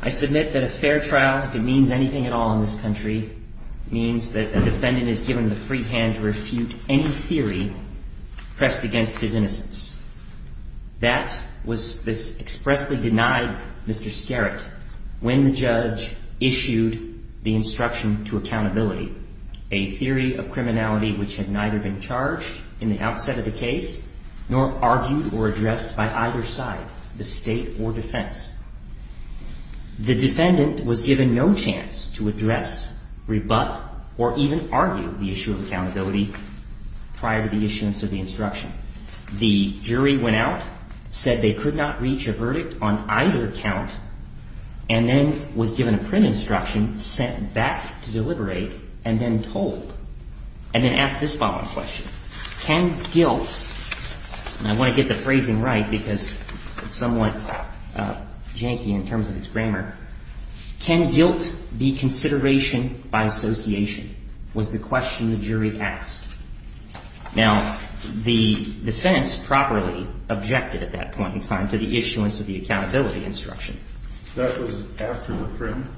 I submit that a fair trial, if it means anything at all in this country, means that a defendant is given the free hand to refute any theory pressed against his innocence. That was expressly denied Mr. Skerett when the judge issued the instruction to accountability, a theory of criminality which had neither been charged in the outset of the case nor argued or addressed by either side, the state or defense. The defendant was given no chance to address, rebut, or even argue the issue of accountability prior to the issuance of the instruction. The jury went out, said they could not reach a verdict on either count, and then was given a print instruction sent back to deliberate and then told. And then asked this following question, can guilt, and I want to get the phrasing right because it's somewhat janky in terms of its grammar, can guilt be consideration by association, was the question the jury asked. Now, the defense properly objected at that point in time to the issuance of the accountability instruction. And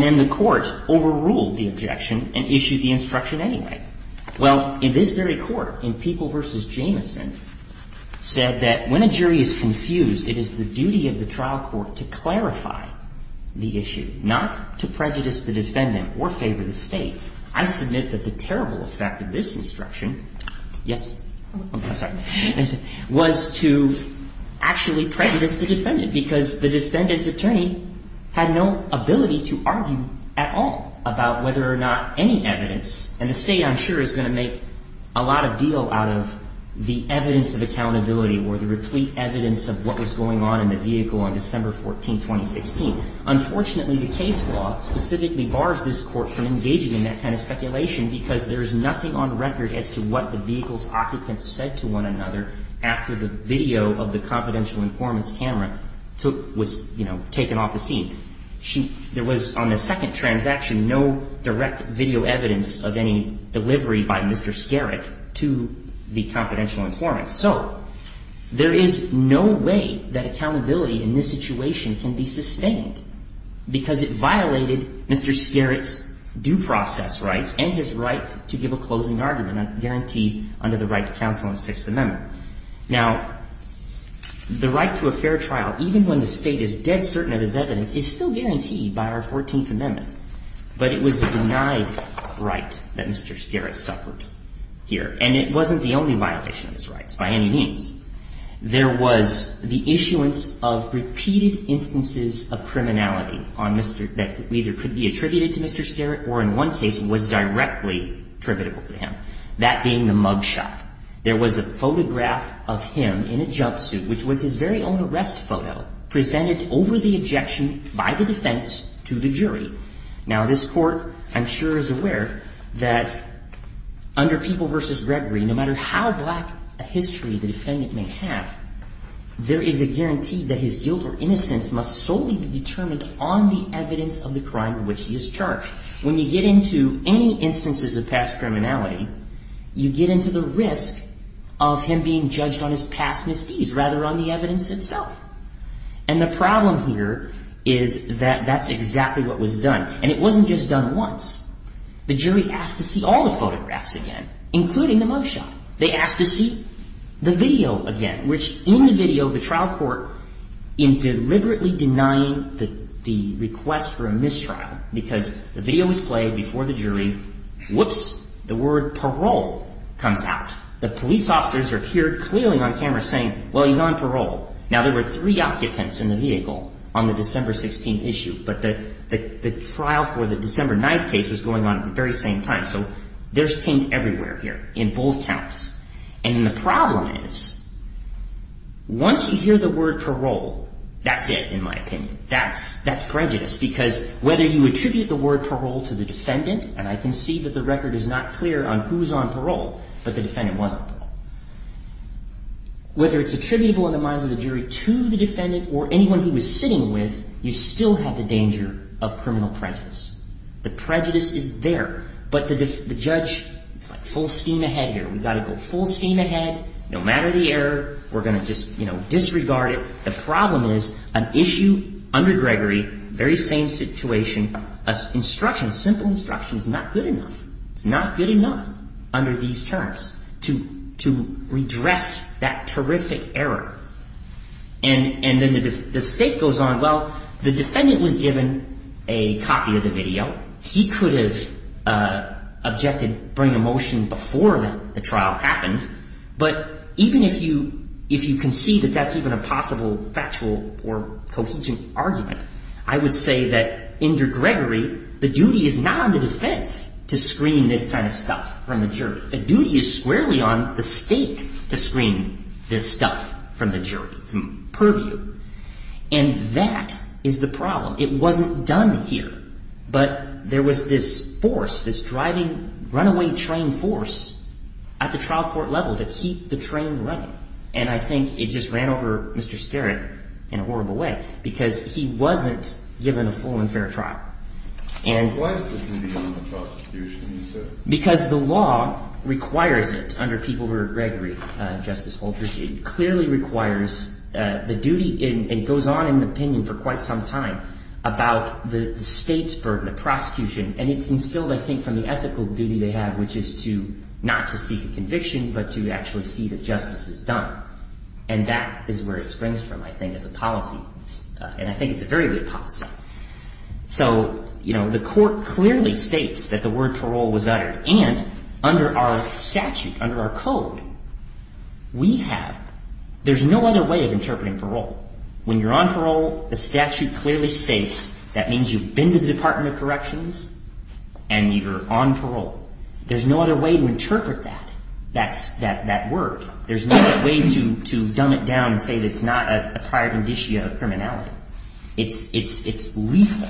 then the court overruled the objection and issued the instruction anyway. Well, in this very court, in People v. Jameson, said that when a jury is confused, it is the duty of the trial court to clarify the issue, not to prejudice the defendant or favor the state. I submit that the terrible effect of this instruction, yes, I'm sorry, well, it's the duty of the trial court to clarify the issue. It was to actually prejudice the defendant because the defendant's attorney had no ability to argue at all about whether or not any evidence. And the state, I'm sure, is going to make a lot of deal out of the evidence of accountability or the replete evidence of what was going on in the vehicle on December 14, 2016. Unfortunately, the case law specifically bars this Court from engaging in that kind of speculation because there is nothing on record as to what the vehicle's occupants said to one another after the video of the confidential informants' camera was taken off the scene. There was on the second transaction no direct video evidence of any delivery by Mr. Skerritt to the confidential informants. So there is no way that accountability in this situation can be sustained because it violated Mr. Skerritt's due process rights and his right to give a closing argument guaranteed under the right to counsel in the Sixth Amendment. Now, the right to a fair trial, even when the state is dead certain of his evidence, is still guaranteed by our Fourteenth Amendment. But it was a denied right that Mr. Skerritt suffered here. And it wasn't the only violation of his rights by any means. There was the issuance of repeated instances of criminality on Mr. — that either could be attributed to Mr. Skerritt or in one case was directly attributable to him, that being the mug shot. There was a photograph of him in a jumpsuit, which was his very own arrest photo, presented over the objection by the defense to the jury. Now, this Court, I'm sure, is aware that under People v. Gregory, no matter how black a history the defendant may have, there is a guarantee that his guilt or innocence must solely be determined on the evidence of the crime to which he is charged. When you get into any instances of past criminality, you get into the risk of him being judged on his past misdeeds rather on the evidence itself. And the problem here is that that's exactly what was done. And it wasn't just done once. The jury asked to see all the photographs again, including the mug shot. They asked to see the video again, which in the video, the trial court, in deliberately denying the request for a mistrial because the video was played before the jury, whoops, the word parole comes out. The police officers are here clearly on camera saying, well, he's on parole. Now, there were three occupants in the vehicle on the December 16th issue, but the trial for the December 9th case was going on at the very same time. So there's taint everywhere here in both counts. And the problem is once you hear the word parole, that's it, in my opinion. That's prejudice because whether you attribute the word parole to the defendant, and I can see that the record is not clear on who is on parole, but the defendant wasn't on parole. Whether it's attributable in the minds of the jury to the defendant or anyone he was sitting with, you still have the danger of criminal prejudice. The prejudice is there, but the judge, it's like full steam ahead here. We've got to go full steam ahead. No matter the error, we're going to just disregard it. The problem is an issue under Gregory, very same situation, a simple instruction is not good enough. It's not good enough under these terms to redress that terrific error. And then the state goes on, well, the defendant was given a copy of the video. He could have objected, bring a motion before the trial happened. But even if you concede that that's even a possible factual or cohesion argument, I would say that under Gregory, the duty is not on the defense to screen this kind of stuff from the jury. The duty is squarely on the state to screen this stuff from the jury, from purview. And that is the problem. It wasn't done here, but there was this force, this driving runaway train force at the trial court level to keep the train running. And I think it just ran over Mr. Skerritt in a horrible way because he wasn't given a full and fair trial. And why is the duty on the prosecution, you said? Because the law requires it under people who are at Gregory, Justice Folgers. It clearly requires the duty and goes on in the opinion for quite some time about the state's burden, the prosecution. And it's instilled, I think, from the ethical duty they have, which is to not to seek a conviction, but to actually see that justice is done. And that is where it springs from, I think, as a policy. And I think it's a very good policy. So, you know, the court clearly states that the word parole was uttered. And under our statute, under our code, we have – there's no other way of interpreting parole. When you're on parole, the statute clearly states that means you've been to the Department of Corrections and you're on parole. There's no other way to interpret that, that word. There's no other way to dumb it down and say that it's not a prior benditio of criminality. It's – it's – it's lethal.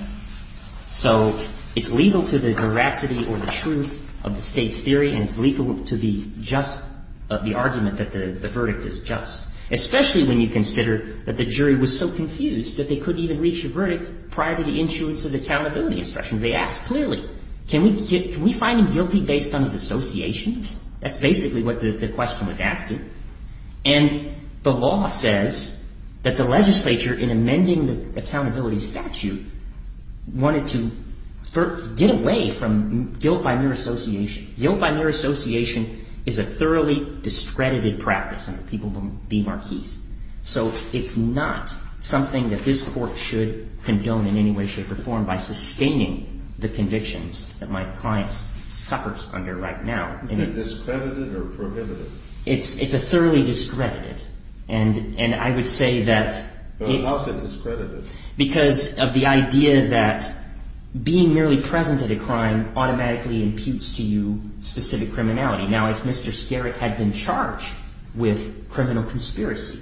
So it's lethal to the veracity or the truth of the state's theory, and it's lethal to the just – the argument that the verdict is just. Especially when you consider that the jury was so confused that they couldn't even reach a verdict prior to the issuance of accountability instructions. They asked clearly, can we find him guilty based on his associations? That's basically what the question was asking. And the law says that the legislature, in amending the accountability statute, wanted to get away from guilt by mere association. Guilt by mere association is a thoroughly discredited practice under people who will be marquees. So it's not something that this Court should condone in any way, shape or form by sustaining the convictions that my client suffers under right now. Is it discredited or prohibited? It's – it's a thoroughly discredited. And – and I would say that – How is it discredited? Because of the idea that being merely present at a crime automatically imputes to you specific criminality. Now, if Mr. Skerek had been charged with criminal conspiracy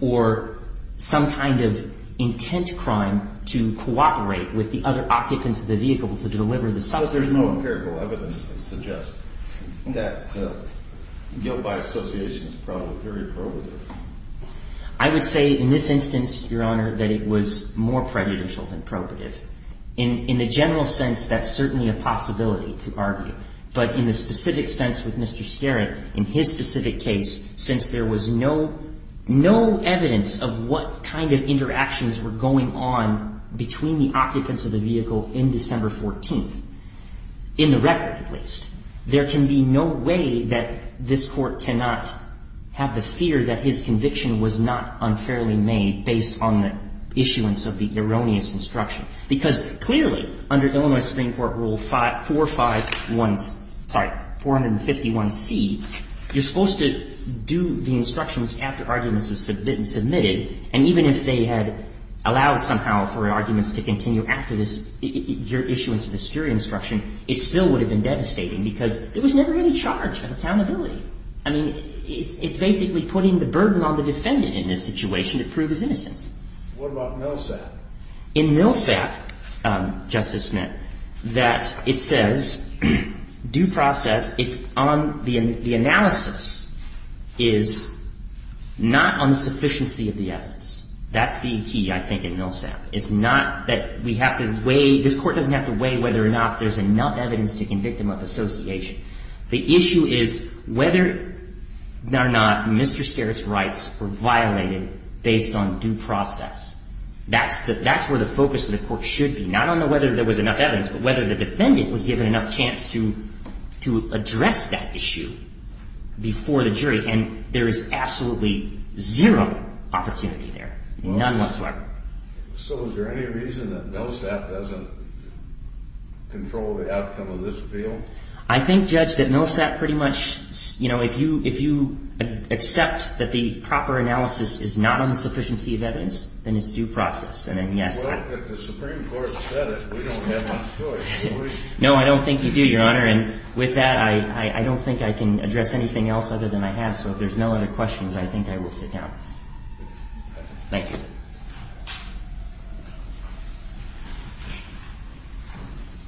or some kind of intent crime to cooperate with the other occupants of the vehicle to deliver the substance – Well, there's no empirical evidence to suggest that guilt by association is probably very prohibitive. I would say in this instance, Your Honor, that it was more prejudicial than prohibitive. In – in the general sense, that's certainly a possibility to argue. But in the specific sense with Mr. Skerek, in his specific case, since there was no – no evidence of what kind of interactions were going on between the occupants of the vehicle in December 14th, in the record at least, there can be no way that this Court cannot have the fear that his conviction was not unfairly made based on the issuance of the erroneous instruction. Because clearly, under Illinois Supreme Court Rule 451 – sorry, 451C, you're supposed to do the instructions after arguments have been submitted. And even if they had allowed somehow for arguments to continue after this – your issuance of this jury instruction, it still would have been devastating because there was never any charge of accountability. I mean, it's – it's basically putting the burden on the defendant in this situation to prove his innocence. What about Millsap? In Millsap, Justice Smith, that it says due process, it's on – the analysis is not on the sufficiency of the evidence. That's the key, I think, in Millsap. It's not that we have to weigh – this Court doesn't have to weigh whether or not there's enough evidence to convict him of association. The issue is whether or not Mr. Skerek's rights were violated based on due process. That's the – that's where the focus of the Court should be. Not on whether there was enough evidence, but whether the defendant was given enough chance to address that issue before the jury. And there is absolutely zero opportunity there. None whatsoever. So is there any reason that Millsap doesn't control the outcome of this appeal? I think, Judge, that Millsap pretty much – you know, if you – if you accept that the proper analysis is not on the sufficiency of evidence, then it's due process. And then, yes. Well, if the Supreme Court has said it, we don't have much choice. No, I don't think you do, Your Honor. And with that, I don't think I can address anything else other than I have. So if there's no other questions, I think I will sit down. Thank you.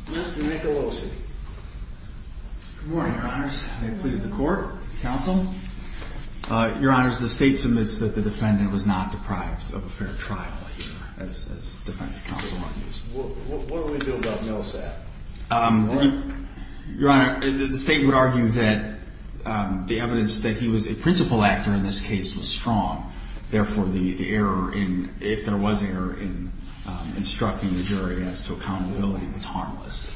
Mr. Nicolosi. Good morning, Your Honors. May it please the Court, counsel. Your Honors, the State submits that the defendant was not deprived of a fair trial here, as defense counsel argues. What do we do about Millsap? Your Honor, the State would argue that the evidence that he was a principal actor in this case was strong. Therefore, the error in – if there was error in instructing the jury as to accountability, it was harmless.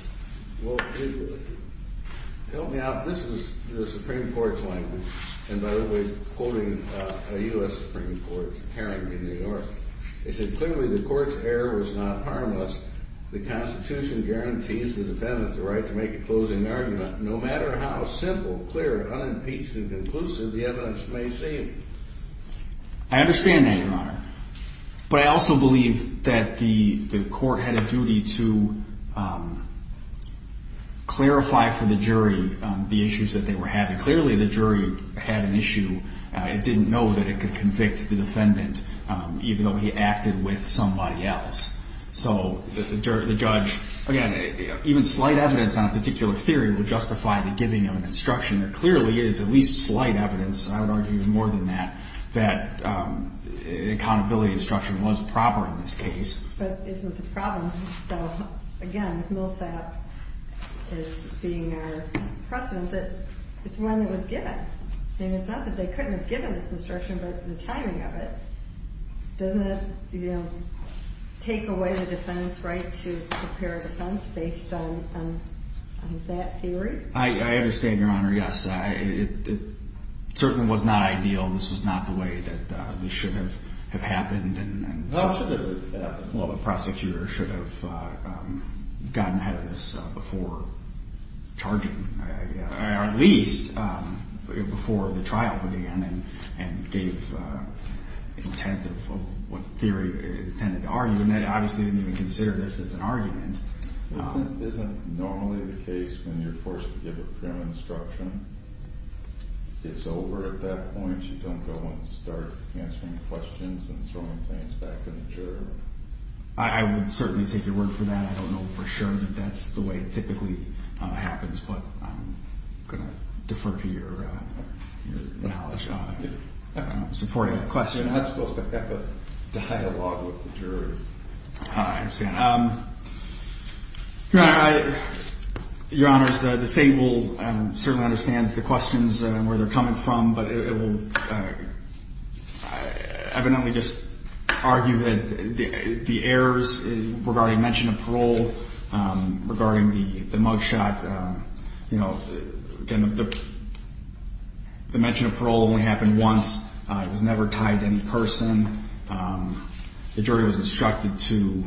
Well, help me out. This is the Supreme Court's language. And by the way, quoting a U.S. Supreme Court hearing in New York, they said, I understand that, Your Honor. But I also believe that the court had a duty to clarify for the jury the issues that they were having. Clearly, the jury had an issue. It didn't know that it could convict the defendant even though he acted with somebody else. So the judge – again, even slight evidence on a particular theory would justify the giving of an instruction. There clearly is at least slight evidence, I would argue even more than that, that accountability instruction was proper in this case. But isn't the problem, though, again, with Millsap as being our precedent, that it's one that was given? I mean, it's not that they couldn't have given this instruction, but the timing of it. Doesn't it take away the defense right to prepare a defense based on that theory? I understand, Your Honor, yes. It certainly was not ideal. This was not the way that this should have happened. Well, it should have happened. Well, the prosecutor should have gotten ahead of this before charging – or at least before the trial began and gave intent of what theory they intended to argue. And they obviously didn't even consider this as an argument. Isn't normally the case when you're forced to give a prim instruction, it's over at that point? You don't go and start answering questions and throwing things back to the juror? I would certainly take your word for that. I don't know for sure that that's the way it typically happens, but I'm going to defer to your knowledge on supporting a question. You're not supposed to have a dialogue with the juror. I understand. Your Honor, the state will certainly understand the questions and where they're coming from, but it will evidently just argue that the errors regarding mention of parole, regarding the mug shot, the mention of parole only happened once. It was never tied to any person. The jury was instructed to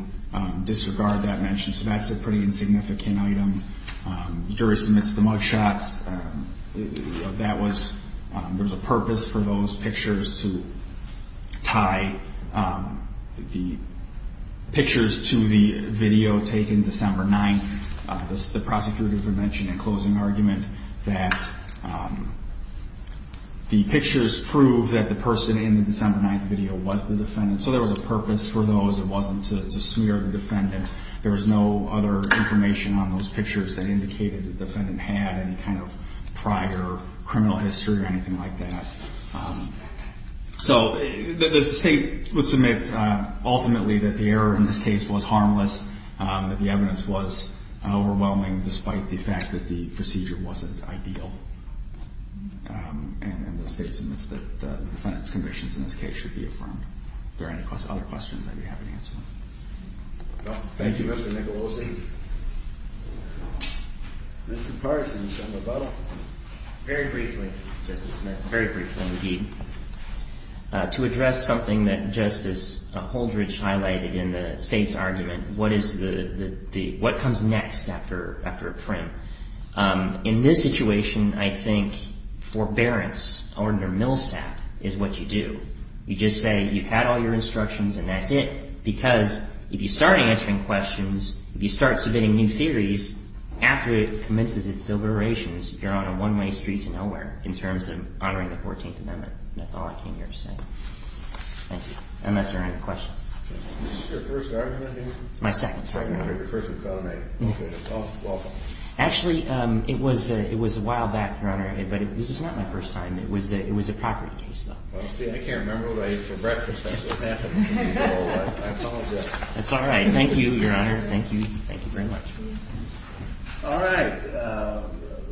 disregard that mention, so that's a pretty insignificant item. The jury submits the mug shots. That was – there was a purpose for those pictures to tie the pictures to the video taken December 9th. The prosecutor would mention in closing argument that the pictures prove that the person in the December 9th video was the defendant, so there was a purpose for those. It wasn't to smear the defendant. There was no other information on those pictures that indicated the defendant had any kind of prior criminal history or anything like that. So the state would submit ultimately that the error in this case was harmless, that the evidence was overwhelming despite the fact that the procedure wasn't ideal, and the state submits that the defendant's convictions in this case should be affirmed. If there are any other questions, I'd be happy to answer them. Thank you, Mr. Nicolosi. Mr. Carson, Senator Buttle. Very briefly, Justice Smith, very briefly indeed. To address something that Justice Holdrege highlighted in the state's argument, what is the – what comes next after a prim? In this situation, I think forbearance or under Milsap is what you do. You just say you've had all your instructions and that's it, because if you start answering questions, if you start submitting new theories, after it commences its deliberations, you're on a one-way street to nowhere in terms of honoring the 14th Amendment. That's all I came here to say. Thank you. Unless there are any questions. Is this your first argument? It's my second, Your Honor. Your first with felony. Okay. Well, welcome. Actually, it was a while back, Your Honor, but this is not my first time. It was a property case, though. Well, see, I can't remember what I ate for breakfast after that, but I apologize. That's all right. Thank you, Your Honor. Thank you. Thank you very much. All right.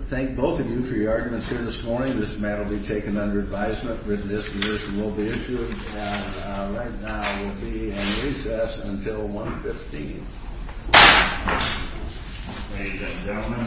Thank both of you for your arguments here this morning. This matter will be taken under advisement. Written disposition will be issued. And right now we'll be in recess until 1 p.m. Thank you, gentlemen.